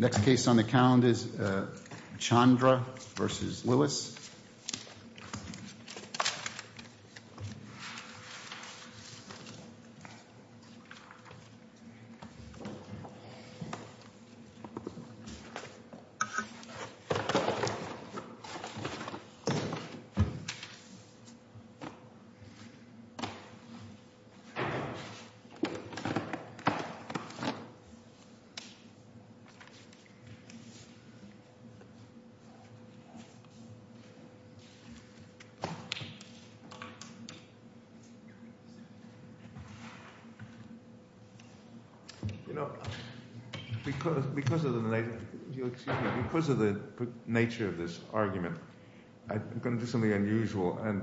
Next case on the calendar is Chandra v. Lewis You know, because of the nature of this argument, I'm going to do something unusual and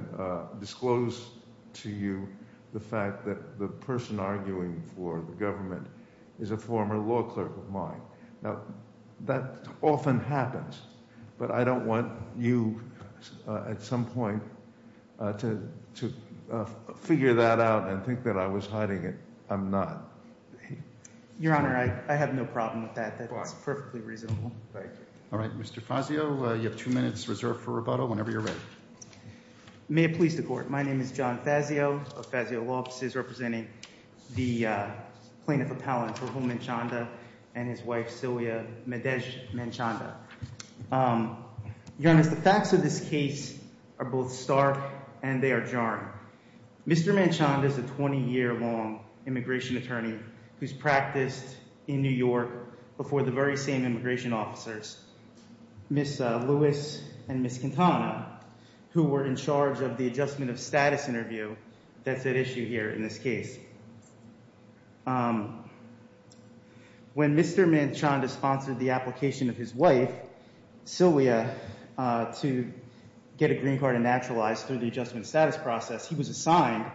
disclose to you the fact that the person arguing for the government is a former law clerk of mine. Now, that often happens, but I don't want you, at some point, to figure that out and think that I was hiding it. I'm not. Your Honor, I have no problem with that. That's perfectly reasonable. Thank you. All right. Mr. Fazio, you have two minutes reserved for rebuttal whenever you're ready. May it please the Court. My name is John Fazio of Fazio Law Offices, representing the plaintiff appellant, Rahul Manchanda, and his wife, Sylvia Madej Manchanda. Your Honor, the facts of this case are both stark and they are jarring. Mr. Manchanda is a 20-year-long immigration attorney who's practiced in New York before the very same immigration officers, Ms. Lewis and Ms. Quintana. Who were in charge of the adjustment of status interview that's at issue here in this case. When Mr. Manchanda sponsored the application of his wife, Sylvia, to get a green card and naturalized through the adjustment status process, he was assigned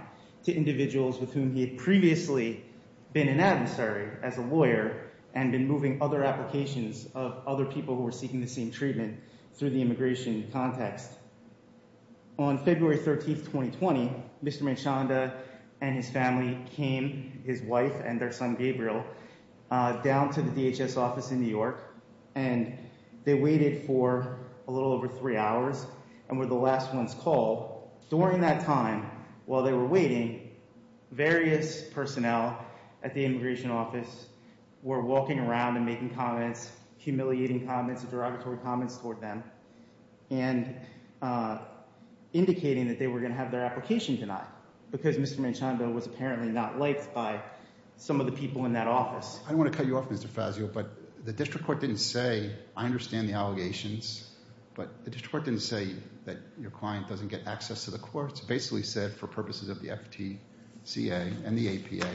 to individuals with whom he had previously been an adversary as a lawyer and been moving other applications of other people who were seeking the same treatment through the immigration context. On February 13, 2020, Mr. Manchanda and his family came, his wife and their son, Gabriel, down to the DHS office in New York, and they waited for a little over three hours and were the last ones called. During that time, while they were waiting, various personnel at the immigration office were walking around and making comments, humiliating comments, derogatory comments toward them, and indicating that they were going to have their application denied because Mr. Manchanda was apparently not liked by some of the people in that office. I don't want to cut you off, Mr. Fazio, but the district court didn't say, I understand the allegations, but the district court didn't say that your client doesn't get access to basically said for purposes of the FTCA and the APA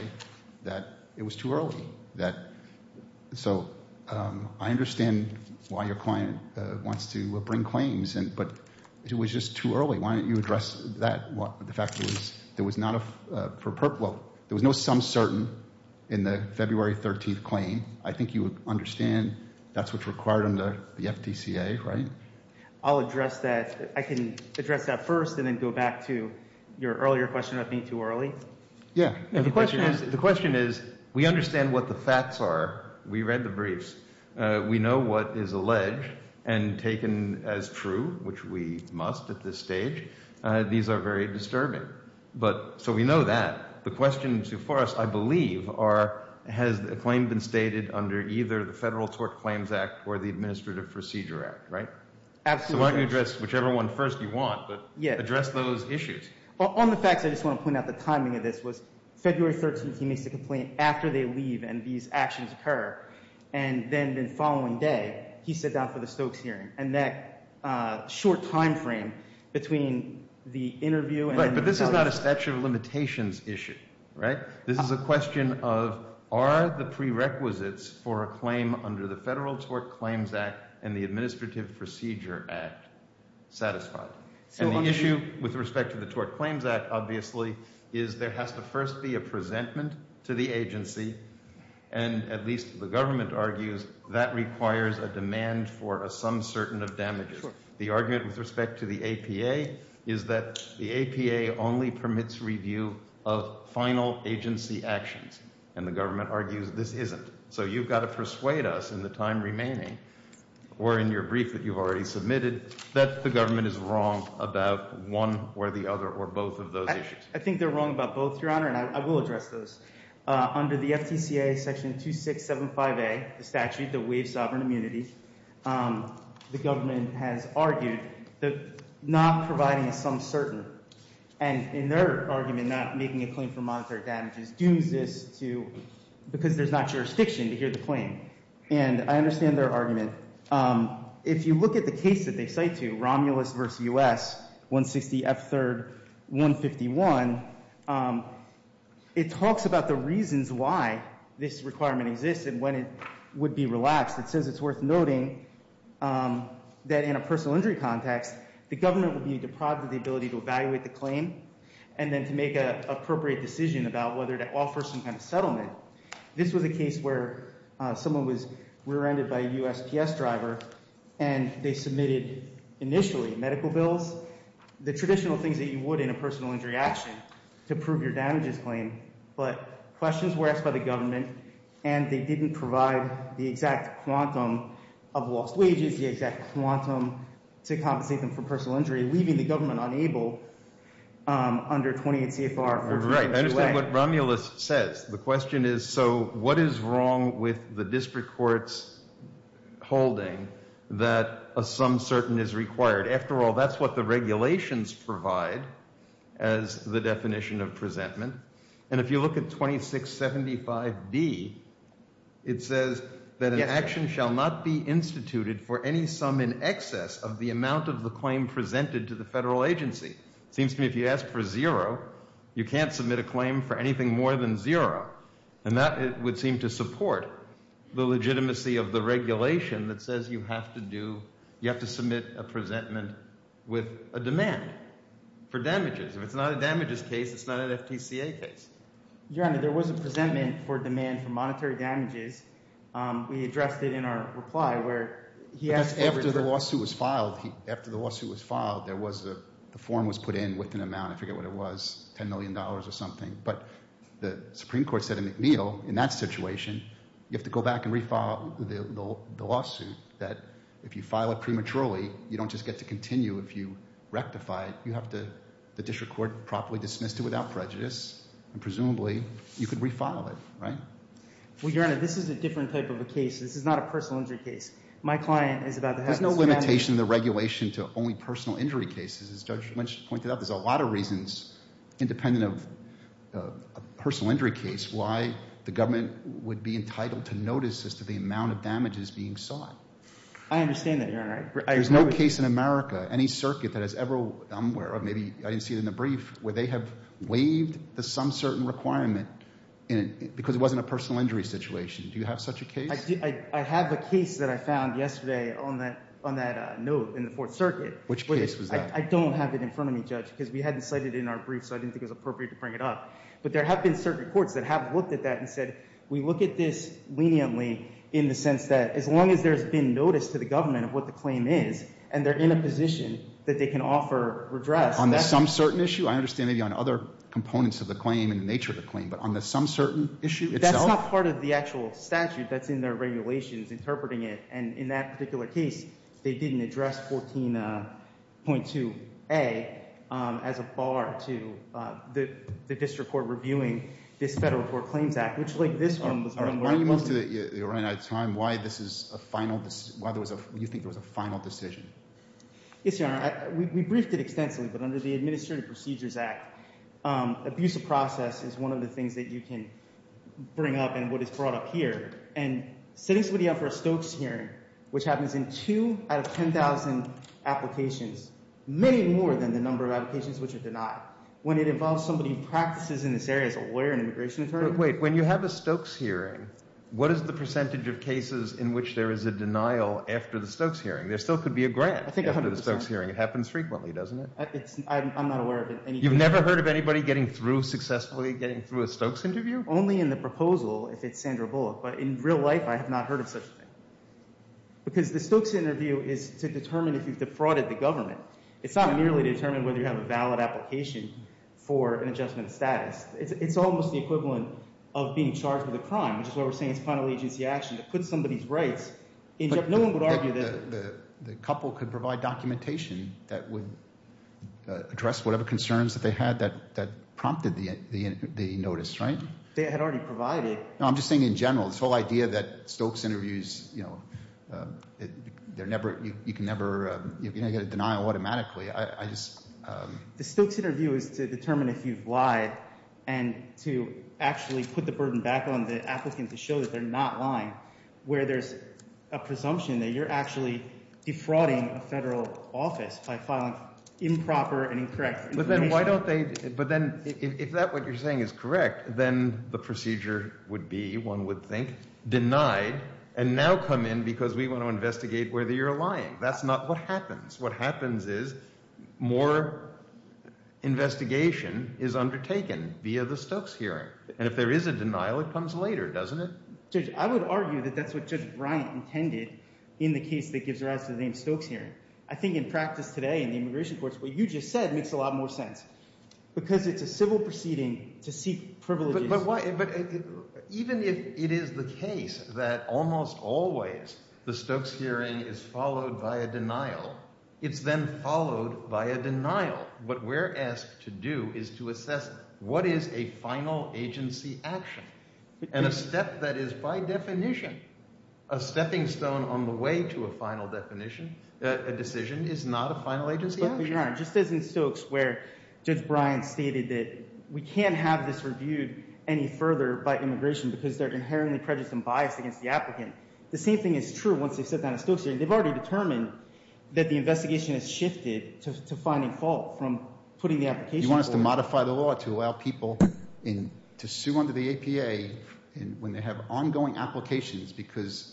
that it was too early. So I understand why your client wants to bring claims, but it was just too early. Why don't you address that? The fact is there was no some certain in the February 13 claim. I think you would understand that's what's required under the FTCA, right? I'll address that. I can address that first and then go back to your earlier question about being too early. Yeah. The question is, we understand what the facts are. We read the briefs. We know what is alleged and taken as true, which we must at this stage. These are very disturbing. So we know that. The questions for us, I believe, are has a claim been stated under either the Federal Tort Claims Act or the Administrative Procedure Act, right? Absolutely. So why don't you address whichever one first you want, but address those issues. On the facts, I just want to point out the timing of this was February 13th, he makes a complaint after they leave and these actions occur. And then the following day, he sat down for the Stokes hearing. And that short time frame between the interview and the… Right, but this is not a statute of limitations issue, right? This is a question of are the prerequisites for a claim under the Federal Tort Claims Act and the Administrative Procedure Act satisfied? And the issue with respect to the Tort Claims Act, obviously, is there has to first be a presentment to the agency and at least the government argues that requires a demand for a sum certain of damages. The argument with respect to the APA is that the APA only permits review of final agency actions and the government argues this isn't. So you've got to persuade us in the time remaining or in your brief that you've already submitted that the government is wrong about one or the other or both of those issues. I think they're wrong about both, Your Honor, and I will address those. Under the FTCA Section 2675A, the statute that waives sovereign immunity, the government has argued that not providing a sum certain and in their argument not making a claim for monetary damages dooms this to – because there's not jurisdiction to hear the claim. And I understand their argument. If you look at the case that they cite to, Romulus v. U.S., 160 F. 3rd, 151, it talks about the reasons why this requirement exists and when it would be relaxed. It says it's worth noting that in a personal injury context, the government would be deprived of the ability to evaluate the claim and then to make an appropriate decision about whether to offer some kind of settlement. This was a case where someone was rear-ended by a USPS driver and they submitted initially medical bills, the traditional things that you would in a personal injury action to prove your damages claim, but questions were asked by the government and they didn't provide the exact quantum of lost wages, the exact quantum to compensate them for personal injury, leaving the government unable under 28 CFR – Right, I understand what Romulus says. The question is, so what is wrong with the district court's holding that a sum certain is required? After all, that's what the regulations provide as the definition of presentment. And if you look at 2675D, it says that an action shall not be instituted for any sum in excess of the amount of the claim presented to the federal agency. It seems to me if you ask for zero, you can't submit a claim for anything more than zero. And that would seem to support the legitimacy of the regulation that says you have to do presentment with a demand for damages. If it's not a damages case, it's not an FTCA case. Your Honor, there was a presentment for demand for monetary damages. We addressed it in our reply where he asked for… But that's after the lawsuit was filed. After the lawsuit was filed, the form was put in with an amount, I forget what it was, $10 million or something. But the Supreme Court said in McNeil, in that situation, you have to go back and refile the lawsuit that if you file it prematurely, you don't just get to continue. If you rectify it, you have to, the district court properly dismissed it without prejudice and presumably you could refile it, right? Well, Your Honor, this is a different type of a case. This is not a personal injury case. My client is about to have his family… There's no limitation in the regulation to only personal injury cases. As Judge Lynch pointed out, there's a lot of reasons independent of a personal injury case why the government would be entitled to notice as to the amount of damages being sought. I understand that, Your Honor. There's no case in America, any circuit that has ever… I didn't see it in the brief, where they have waived the some certain requirement because it wasn't a personal injury situation. Do you have such a case? I have a case that I found yesterday on that note in the Fourth Circuit. Which case was that? I don't have it in front of me, Judge, because we hadn't cited it in our brief so I didn't think it was appropriate to bring it up. But there have been circuit courts that have looked at that and said, we look at this leniently in the sense that as long as there's been notice to the government of what the claim is and they're in a position that they can offer redress… On the some certain issue? I understand maybe on other components of the claim and the nature of the claim. But on the some certain issue itself? That's not part of the actual statute that's in their regulations interpreting it. And in that particular case, they didn't address 14.2A as a bar to the district court reviewing this Federal Court Claims Act, which like this one was… Are you most of the time why this is a final… Why you think there was a final decision? Yes, Your Honor. We briefed it extensively, but under the Administrative Procedures Act, abuse of process is one of the things that you can bring up and what is brought up here. And setting somebody up for a Stokes hearing, which happens in two out of 10,000 applications, many more than the number of applications which are denied, when it involves somebody who practices in this area as a lawyer and immigration attorney… But wait, when you have a Stokes hearing, what is the percentage of cases in which there is a denial after the Stokes hearing? There still could be a grant after the Stokes hearing. It happens frequently, doesn't it? I'm not aware of any… You've never heard of anybody getting through successfully, getting through a Stokes interview? Only in the proposal, if it's Sandra Bullock. But in real life, I have not heard of such a thing. Because the Stokes interview is to determine if you've defrauded the government. It's not merely to determine whether you have a valid application for an adjustment of status. It's almost the equivalent of being charged with a crime, which is why we're saying it's a final agency action to put somebody's rights in jeopardy. No one would argue that… The couple could provide documentation that would address whatever concerns that they had that prompted the notice, right? They had already provided. No, I'm just saying in general, this whole idea that Stokes interviews, you can never get a denial automatically. The Stokes interview is to determine if you've lied and to actually put the burden back on the applicant to show that they're not lying, where there's a presumption that you're actually defrauding a federal office by filing improper and incorrect information. But then why don't they – but then if that what you're saying is correct, then the procedure would be, one would think, denied and now come in because we want to investigate whether you're lying. That's not what happens. What happens is more investigation is undertaken via the Stokes hearing. And if there is a denial, it comes later, doesn't it? Judge, I would argue that that's what Judge Bryant intended in the case that gives rise to the name Stokes hearing. I think in practice today in the immigration courts, what you just said makes a lot more sense because it's a civil proceeding to seek privileges. But even if it is the case that almost always the Stokes hearing is followed by a denial, it's then followed by a denial. What we're asked to do is to assess what is a final agency action. And a step that is by definition a stepping stone on the way to a final definition, a decision, is not a final agency action. Your Honor, just as in Stokes where Judge Bryant stated that we can't have this reviewed any further by immigration because they're inherently prejudiced and biased against the applicant, the same thing is true once they've sat down at Stokes hearing. They've already determined that the investigation has shifted to finding fault from putting the application forward. You want us to modify the law to allow people to sue under the APA when they have ongoing applications because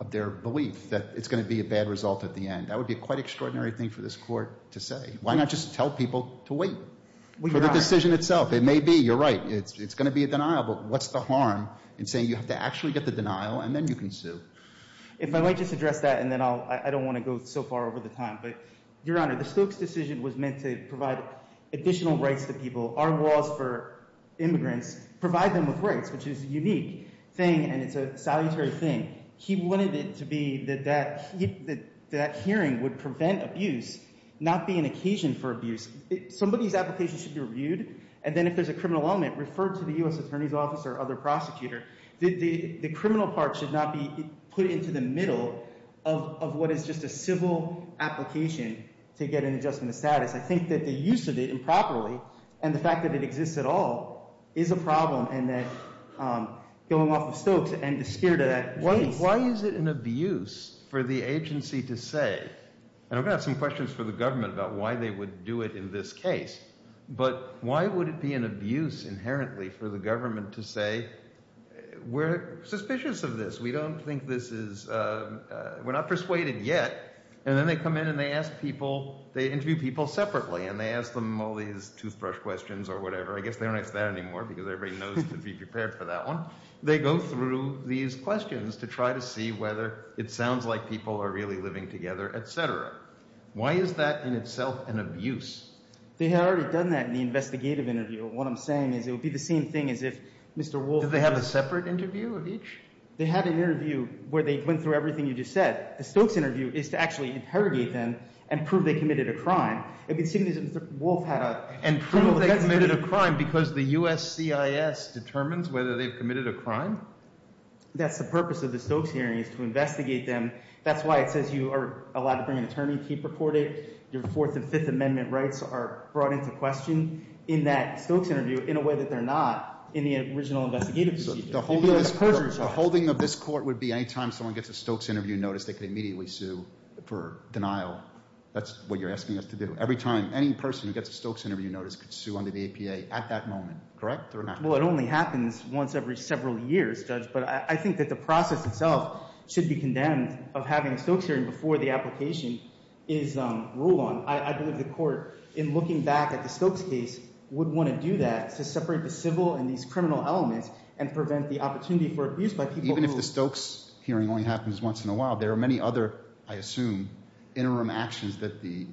of their belief that it's going to be a bad result at the end. That would be a quite extraordinary thing for this Court to say. Why not just tell people to wait for the decision itself? It may be, you're right, it's going to be a denial, but what's the harm in saying you have to actually get the denial and then you can sue? If I might just address that and then I don't want to go so far over the time. Your Honor, the Stokes decision was meant to provide additional rights to people. Our laws for immigrants provide them with rights, which is a unique thing and it's a salutary thing. He wanted it to be that that hearing would prevent abuse, not be an occasion for abuse. Somebody's application should be reviewed, and then if there's a criminal element, refer to the U.S. Attorney's Office or other prosecutor. The criminal part should not be put into the middle of what is just a civil application to get an adjustment of status. I think that the use of it improperly and the fact that it exists at all is a problem going off of Stokes and the spirit of that case. Why is it an abuse for the agency to say, and I'm going to have some questions for the government about why they would do it in this case, but why would it be an abuse inherently for the government to say, we're suspicious of this, we don't think this is, we're not persuaded yet, and then they come in and they ask people, they interview people separately and they ask them all these toothbrush questions or whatever. I guess they don't ask that anymore because everybody knows to be prepared for that one. They go through these questions to try to see whether it sounds like people are really living together, etc. Why is that in itself an abuse? They had already done that in the investigative interview. What I'm saying is it would be the same thing as if Mr. Wolf – Did they have a separate interview of each? They had an interview where they went through everything you just said. The Stokes interview is to actually interrogate them and prove they committed a crime. And prove they committed a crime because the USCIS determines whether they've committed a crime? That's the purpose of the Stokes hearing is to investigate them. That's why it says you are allowed to bring an attorney, keep recorded. Your Fourth and Fifth Amendment rights are brought into question in that Stokes interview in a way that they're not in the original investigative procedure. The holding of this court would be any time someone gets a Stokes interview notice, they could immediately sue for denial. That's what you're asking us to do. Every time any person who gets a Stokes interview notice could sue under the APA at that moment. Correct or not? Well, it only happens once every several years, Judge, but I think that the process itself should be condemned of having a Stokes hearing before the application is ruled on. I believe the court, in looking back at the Stokes case, would want to do that to separate the civil and these criminal elements and prevent the opportunity for abuse by people who – Even if the Stokes hearing only happens once in a while, there are many other, I assume, interim actions that the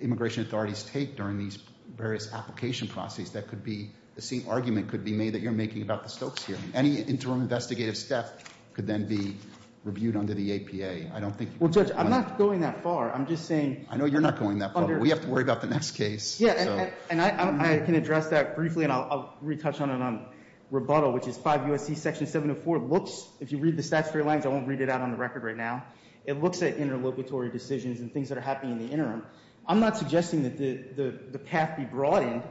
immigration authorities take during these various application processes that could be – the same argument could be made that you're making about the Stokes hearing. Any interim investigative step could then be reviewed under the APA. I don't think – Well, Judge, I'm not going that far. I'm just saying – I know you're not going that far, but we have to worry about the next case. Yeah, and I can address that briefly, and I'll retouch on it on rebuttal, which is 5 U.S.C. Section 704 looks – If you read the statutory language, I won't read it out on the record right now. It looks at interlocutory decisions and things that are happening in the interim. I'm not suggesting that the path be broadened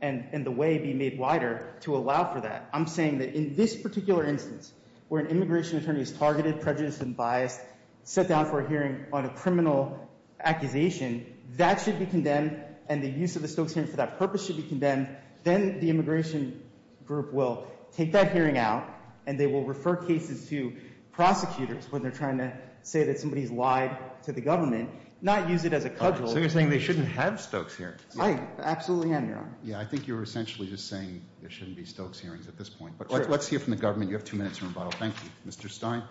and the way be made wider to allow for that. I'm saying that in this particular instance, where an immigration attorney is targeted, prejudiced, and biased, set down for a hearing on a criminal accusation, that should be condemned and the use of the Stokes hearing for that purpose should be condemned. Then the immigration group will take that hearing out, and they will refer cases to prosecutors when they're trying to say that somebody's lied to the government, not use it as a cudgel. So you're saying they shouldn't have Stokes hearings. I absolutely am, Your Honor. Yeah, I think you're essentially just saying there shouldn't be Stokes hearings at this point. But let's hear from the government. You have two minutes for rebuttal. Thank you. Mr. Stein.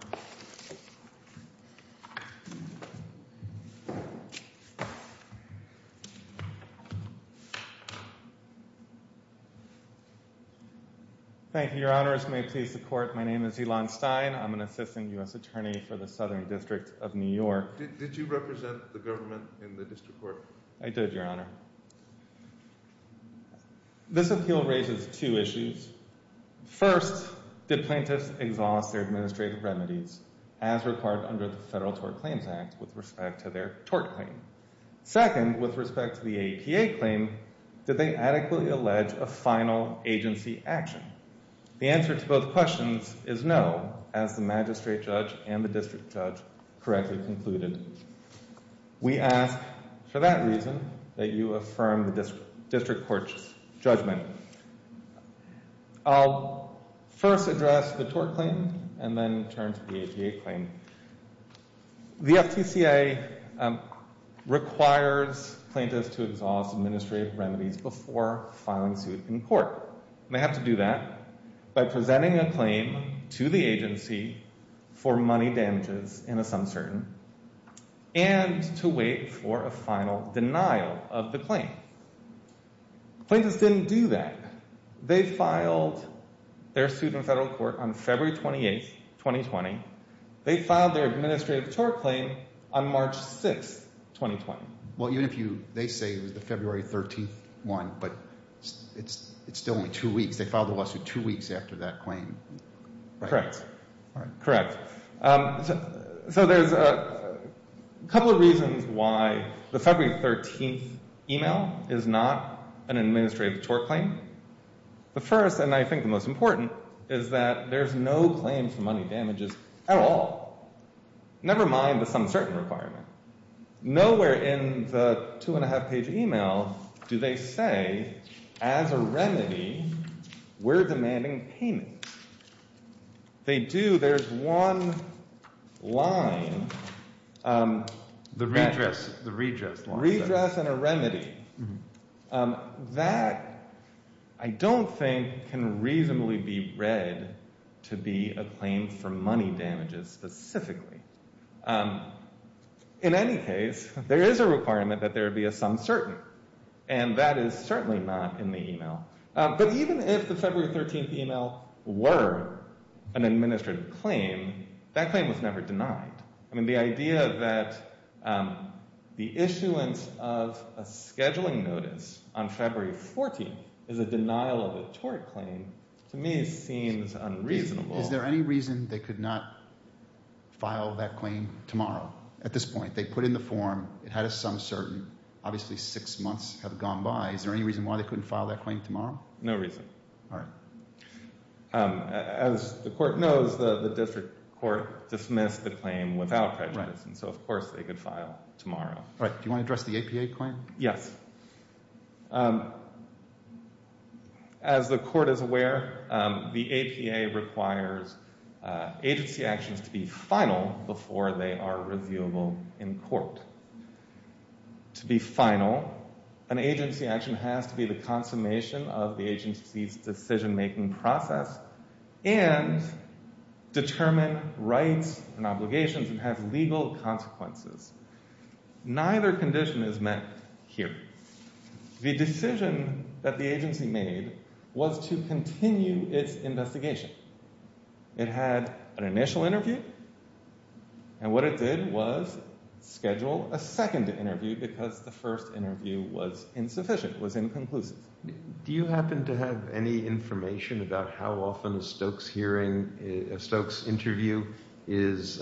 Thank you, Your Honor. This may please the court. My name is Elon Stein. I'm an assistant U.S. attorney for the Southern District of New York. Did you represent the government in the district court? I did, Your Honor. This appeal raises two issues. First, did plaintiffs exhaust their administrative remedies as required under the Federal Tort Claims Act with respect to their tort claim? Second, with respect to the APA claim, did they adequately allege a final agency action? The answer to both questions is no, as the magistrate judge and the district judge correctly concluded. We ask for that reason that you affirm the district court's judgment. I'll first address the tort claim and then turn to the APA claim. The FTCA requires plaintiffs to exhaust administrative remedies before filing suit in court. They have to do that by presenting a claim to the agency for money damages in a sum certain and to wait for a final denial of the claim. Plaintiffs didn't do that. They filed their suit in federal court on February 28, 2020. They filed their administrative tort claim on March 6, 2020. Well, even if they say it was the February 13th one, but it's still only two weeks. They filed the lawsuit two weeks after that claim. Correct. Correct. So there's a couple of reasons why the February 13th email is not an administrative tort claim. The first, and I think the most important, is that there's no claim for money damages at all. Never mind the sum certain requirement. Nowhere in the two-and-a-half-page email do they say, as a remedy, we're demanding payment. They do. There's one line. The redress line. Redress and a remedy. That, I don't think, can reasonably be read to be a claim for money damages specifically. In any case, there is a requirement that there be a sum certain, and that is certainly not in the email. But even if the February 13th email were an administrative claim, that claim was never denied. I mean, the idea that the issuance of a scheduling notice on February 14th is a denial of a tort claim, to me, seems unreasonable. Is there any reason they could not file that claim tomorrow? At this point, they put in the form. It had a sum certain. Obviously six months have gone by. Is there any reason why they couldn't file that claim tomorrow? No reason. All right. As the court knows, the district court dismissed the claim without prejudice. And so, of course, they could file tomorrow. All right. Do you want to address the APA claim? Yes. As the court is aware, the APA requires agency actions to be final before they are reviewable in court. To be final, an agency action has to be the consummation of the agency's decision-making process and determine rights and obligations and have legal consequences. Neither condition is met here. The decision that the agency made was to continue its investigation. It had an initial interview. And what it did was schedule a second interview because the first interview was insufficient, was inconclusive. Do you happen to have any information about how often a Stokes hearing, a Stokes interview is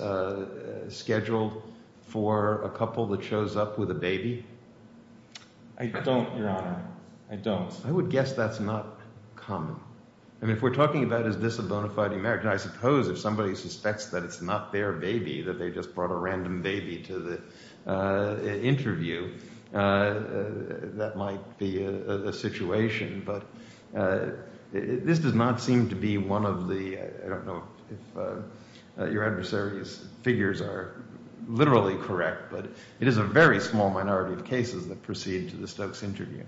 scheduled for a couple that shows up with a baby? I don't, Your Honor. I don't. I would guess that's not common. I mean, if we're talking about is this a bona fide marriage, I suppose if somebody suspects that it's not their baby, that they just brought a random baby to the interview, that might be a situation. But this does not seem to be one of the – I don't know if your adversary's figures are literally correct, but it is a very small minority of cases that proceed to the Stokes interview.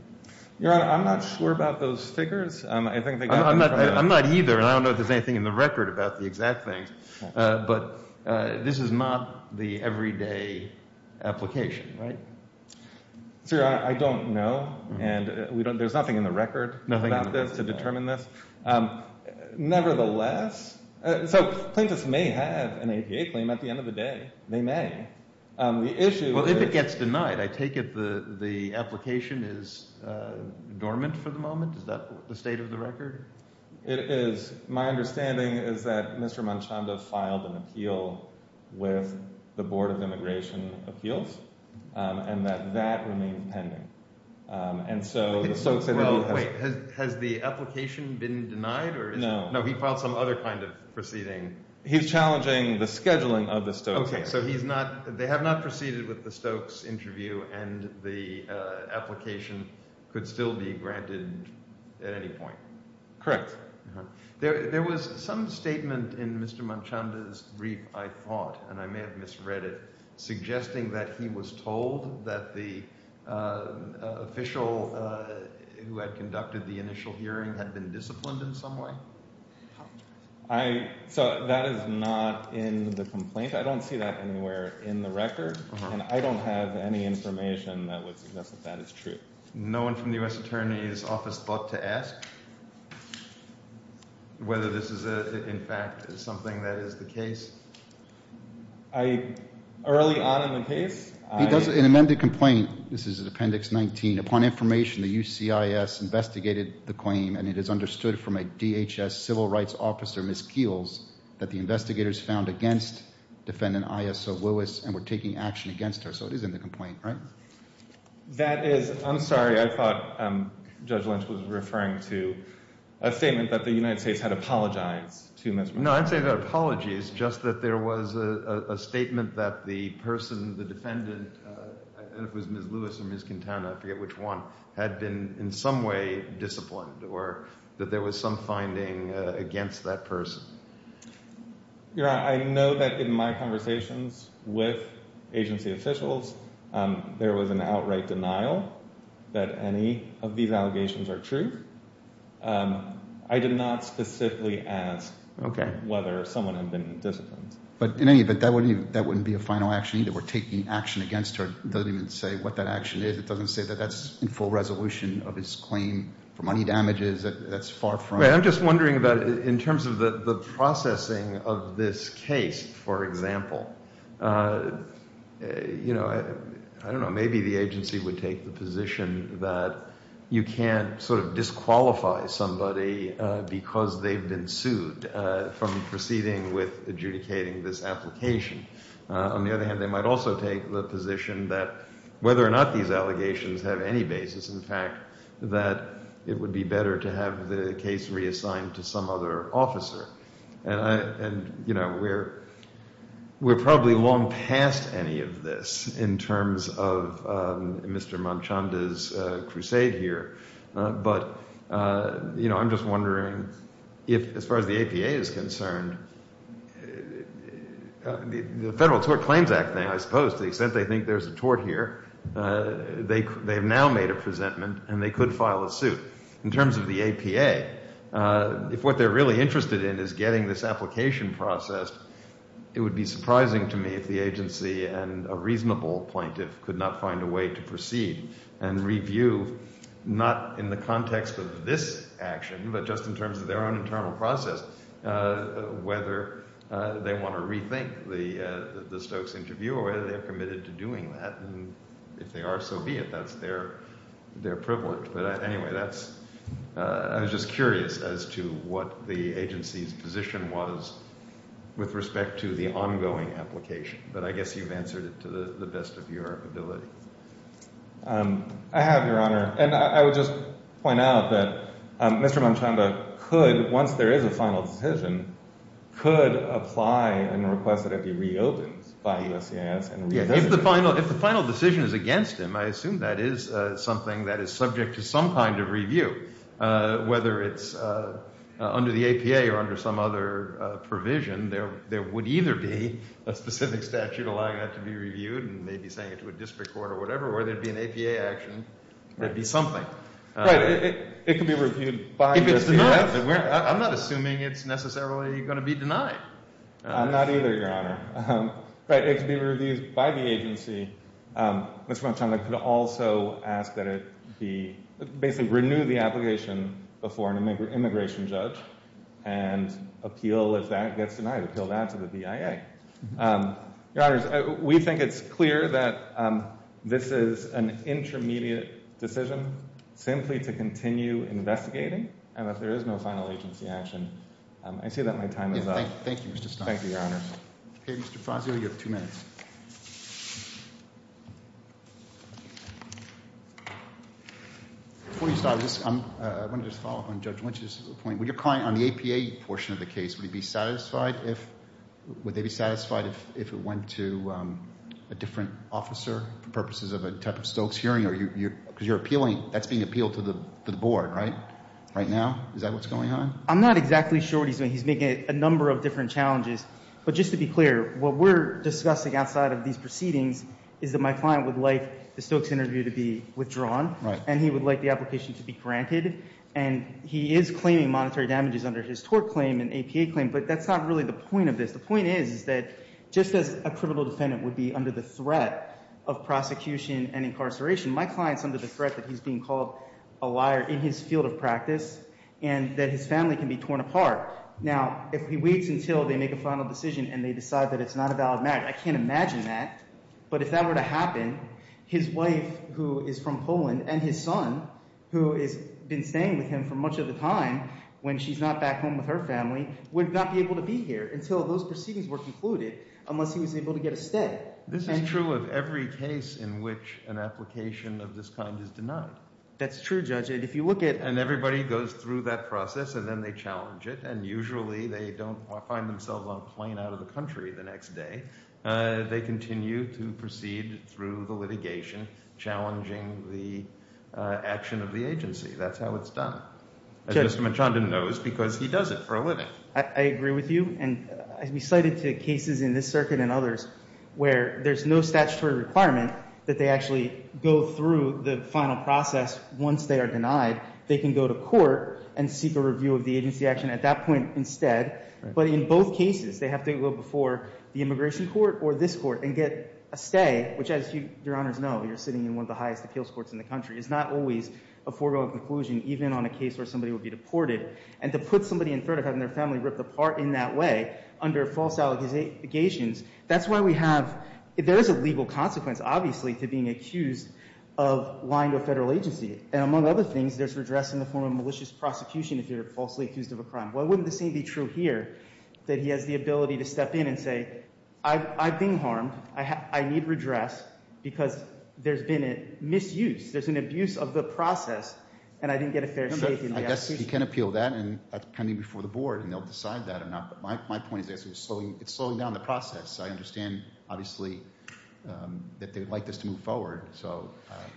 Your Honor, I'm not sure about those figures. I'm not either, and I don't know if there's anything in the record about the exact things. But this is not the everyday application, right? Sir, I don't know, and there's nothing in the record about this to determine this. Nevertheless – so plaintiffs may have an APA claim at the end of the day. They may. The issue is – It is. My understanding is that Mr. Manchanda filed an appeal with the Board of Immigration Appeals and that that remains pending. And so the Stokes interview has – Well, wait. Has the application been denied? No. No, he filed some other kind of proceeding. He's challenging the scheduling of the Stokes interview. Okay, so he's not – they have not proceeded with the Stokes interview and the application could still be granted at any point. Correct. There was some statement in Mr. Manchanda's brief, I thought, and I may have misread it, suggesting that he was told that the official who had conducted the initial hearing had been disciplined in some way. So that is not in the complaint. I don't see that anywhere in the record, and I don't have any information that would suggest that that is true. No one from the U.S. Attorney's Office thought to ask whether this is, in fact, something that is the case? Early on in the case – He does – in an amended complaint, this is in Appendix 19, upon information the UCIS investigated the claim and it is understood from a DHS civil rights officer, Ms. Keels, that the investigators found against defendant ISO Lewis and were taking action against her. So it is in the complaint, right? That is – I'm sorry, I thought Judge Lynch was referring to a statement that the United States had apologized to Ms. – No, I'm saying that apologies, just that there was a statement that the person, the defendant, I don't know if it was Ms. Lewis or Ms. Quintana, I forget which one, had been in some way disciplined or that there was some finding against that person. Your Honor, I know that in my conversations with agency officials, there was an outright denial that any of these allegations are true. I did not specifically ask whether someone had been disciplined. But in any event, that wouldn't be a final action either. We're taking action against her. It doesn't even say what that action is. It doesn't say that that's in full resolution of his claim for money damages. That's far from – You know, I don't know, maybe the agency would take the position that you can't sort of disqualify somebody because they've been sued from proceeding with adjudicating this application. On the other hand, they might also take the position that whether or not these allegations have any basis in the fact that it would be better to have the case reassigned to some other officer. And, you know, we're probably long past any of this in terms of Mr. Manchanda's crusade here. But, you know, I'm just wondering if, as far as the APA is concerned, the Federal Tort Claims Act thing, I suppose, to the extent they think there's a tort here, they have now made a presentment and they could file a suit. In terms of the APA, if what they're really interested in is getting this application processed, it would be surprising to me if the agency and a reasonable plaintiff could not find a way to proceed and review, not in the context of this action, but just in terms of their own internal process, whether they want to rethink the Stokes interview or whether they're committed to doing that. And if they are, so be it. That's their privilege. But anyway, that's – I was just curious as to what the agency's position was with respect to the ongoing application. But I guess you've answered it to the best of your ability. I have, Your Honor. And I would just point out that Mr. Manchanda could, once there is a final decision, could apply and request that it be reopened by USCIS. If the final decision is against him, I assume that is something that is subject to some kind of review, whether it's under the APA or under some other provision. There would either be a specific statute allowing that to be reviewed and maybe saying it to a district court or whatever, or there would be an APA action. There would be something. Right. It could be reviewed by USCIS. I'm not assuming it's necessarily going to be denied. Not either, Your Honor. But it could be reviewed by the agency. Mr. Manchanda could also ask that it be – basically renew the application before an immigration judge and appeal if that gets denied, appeal that to the BIA. Your Honors, we think it's clear that this is an intermediate decision simply to continue investigating. And if there is no final agency action, I see that my time is up. Thank you, Mr. Stein. Thank you, Your Honors. Okay, Mr. Fazio, you have two minutes. Before you start, I want to just follow up on Judge Lynch's point. Would your client on the APA portion of the case, would he be satisfied if – would they be satisfied if it went to a different officer for purposes of a type of Stokes hearing? Because you're appealing – that's being appealed to the board, right? Right now? Is that what's going on? I'm not exactly sure what he's doing. He's making a number of different challenges. But just to be clear, what we're discussing outside of these proceedings is that my client would like the Stokes interview to be withdrawn. Right. And he would like the application to be granted. And he is claiming monetary damages under his tort claim and APA claim, but that's not really the point of this. The point is, is that just as a criminal defendant would be under the threat of prosecution and incarceration, my client is under the threat that he's being called a liar in his field of practice and that his family can be torn apart. Now, if he waits until they make a final decision and they decide that it's not a valid marriage, I can't imagine that. But if that were to happen, his wife, who is from Poland, and his son, who has been staying with him for much of the time when she's not back home with her family, would not be able to be here until those proceedings were concluded unless he was able to get a stay. This is true of every case in which an application of this kind is denied. That's true, Judge. And if you look at— And everybody goes through that process and then they challenge it. And usually they don't find themselves on a plane out of the country the next day. They continue to proceed through the litigation, challenging the action of the agency. That's how it's done. As Mr. Menchanda knows, because he does it for a living. I agree with you. And we cite it to cases in this circuit and others where there's no statutory requirement that they actually go through the final process once they are denied. They can go to court and seek a review of the agency action at that point instead. But in both cases, they have to go before the immigration court or this court and get a stay, which, as Your Honors know, you're sitting in one of the highest appeals courts in the country. It's not always a foregone conclusion, even on a case where somebody would be deported. And to put somebody in threat of having their family ripped apart in that way under false allegations, that's why we have— There is a legal consequence, obviously, to being accused of lying to a federal agency. And among other things, there's redress in the form of malicious prosecution if you're falsely accused of a crime. Why wouldn't the same be true here, that he has the ability to step in and say, I've been harmed. I need redress because there's been a misuse. There's an abuse of the process, and I didn't get a fair— I guess he can appeal that, and that's coming before the board, and they'll decide that or not. But my point is it's slowing down the process. I understand, obviously, that they would like this to move forward, so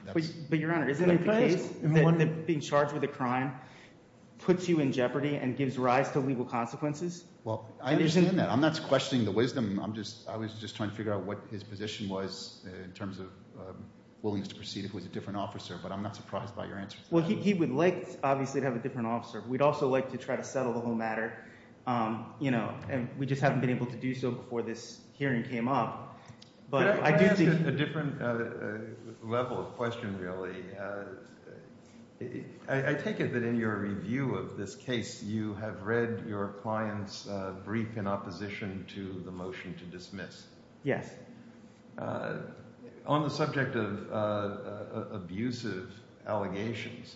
that's— But Your Honor, isn't it the case that being charged with a crime puts you in jeopardy and gives rise to legal consequences? Well, I understand that. I'm not questioning the wisdom. I'm just – I was just trying to figure out what his position was in terms of willingness to proceed if it was a different officer. But I'm not surprised by your answer. Well, he would like, obviously, to have a different officer. We'd also like to try to settle the whole matter, and we just haven't been able to do so before this hearing came up. But I do think— Could I ask a different level of question, really? I take it that in your review of this case, you have read your client's brief in opposition to the motion to dismiss. Yes. On the subject of abusive allegations,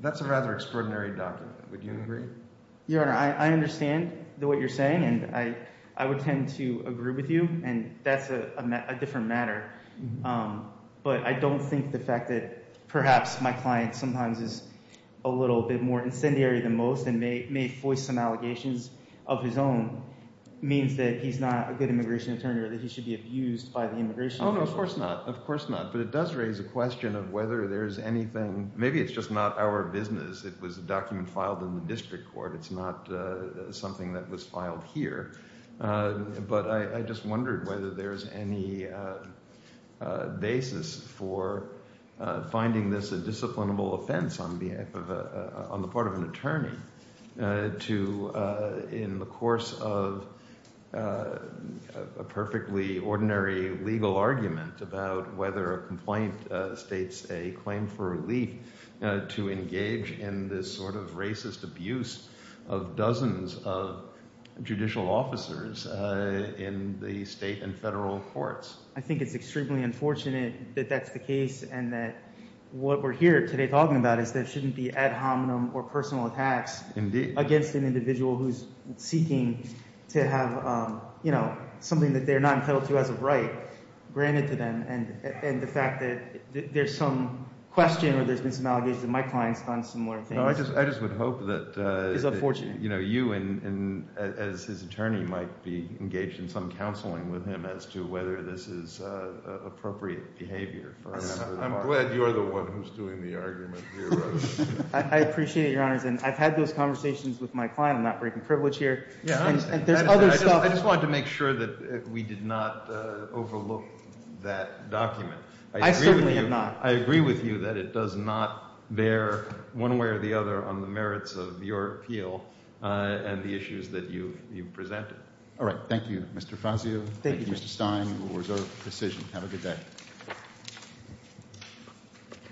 that's a rather extraordinary document. Would you agree? Your Honor, I understand what you're saying, and I would tend to agree with you, and that's a different matter. But I don't think the fact that perhaps my client sometimes is a little bit more incendiary than most and may voice some allegations of his own means that he's not a good immigration attorney or that he should be abused. Oh, no, of course not. Of course not. But it does raise a question of whether there is anything—maybe it's just not our business. It was a document filed in the district court. It's not something that was filed here. But I just wondered whether there's any basis for finding this a disciplinable offense on the part of an attorney to, in the course of a perfectly ordinary legal argument about whether a complaint states a claim for relief, to engage in this sort of racist abuse of dozens of judicial officers in the state and federal courts. I think it's extremely unfortunate that that's the case and that what we're here today talking about is there shouldn't be ad hominem or personal attacks against an individual who's seeking to have something that they're not entitled to as a right granted to them. And the fact that there's some question or there's been some allegations that my client's done similar things— No, I just would hope that— —is unfortunate. You know, you as his attorney might be engaged in some counseling with him as to whether this is appropriate behavior. I'm glad you're the one who's doing the argument here. I appreciate it, Your Honors. And I've had those conversations with my client. I'm not breaking privilege here. Yeah, I understand. And there's other stuff— I certainly am not. I agree with you that it does not bear, one way or the other, on the merits of your appeal and the issues that you've presented. All right. Thank you, Mr. Fazio. Thank you, Mr. Stein. We'll reserve the decision. Have a good day.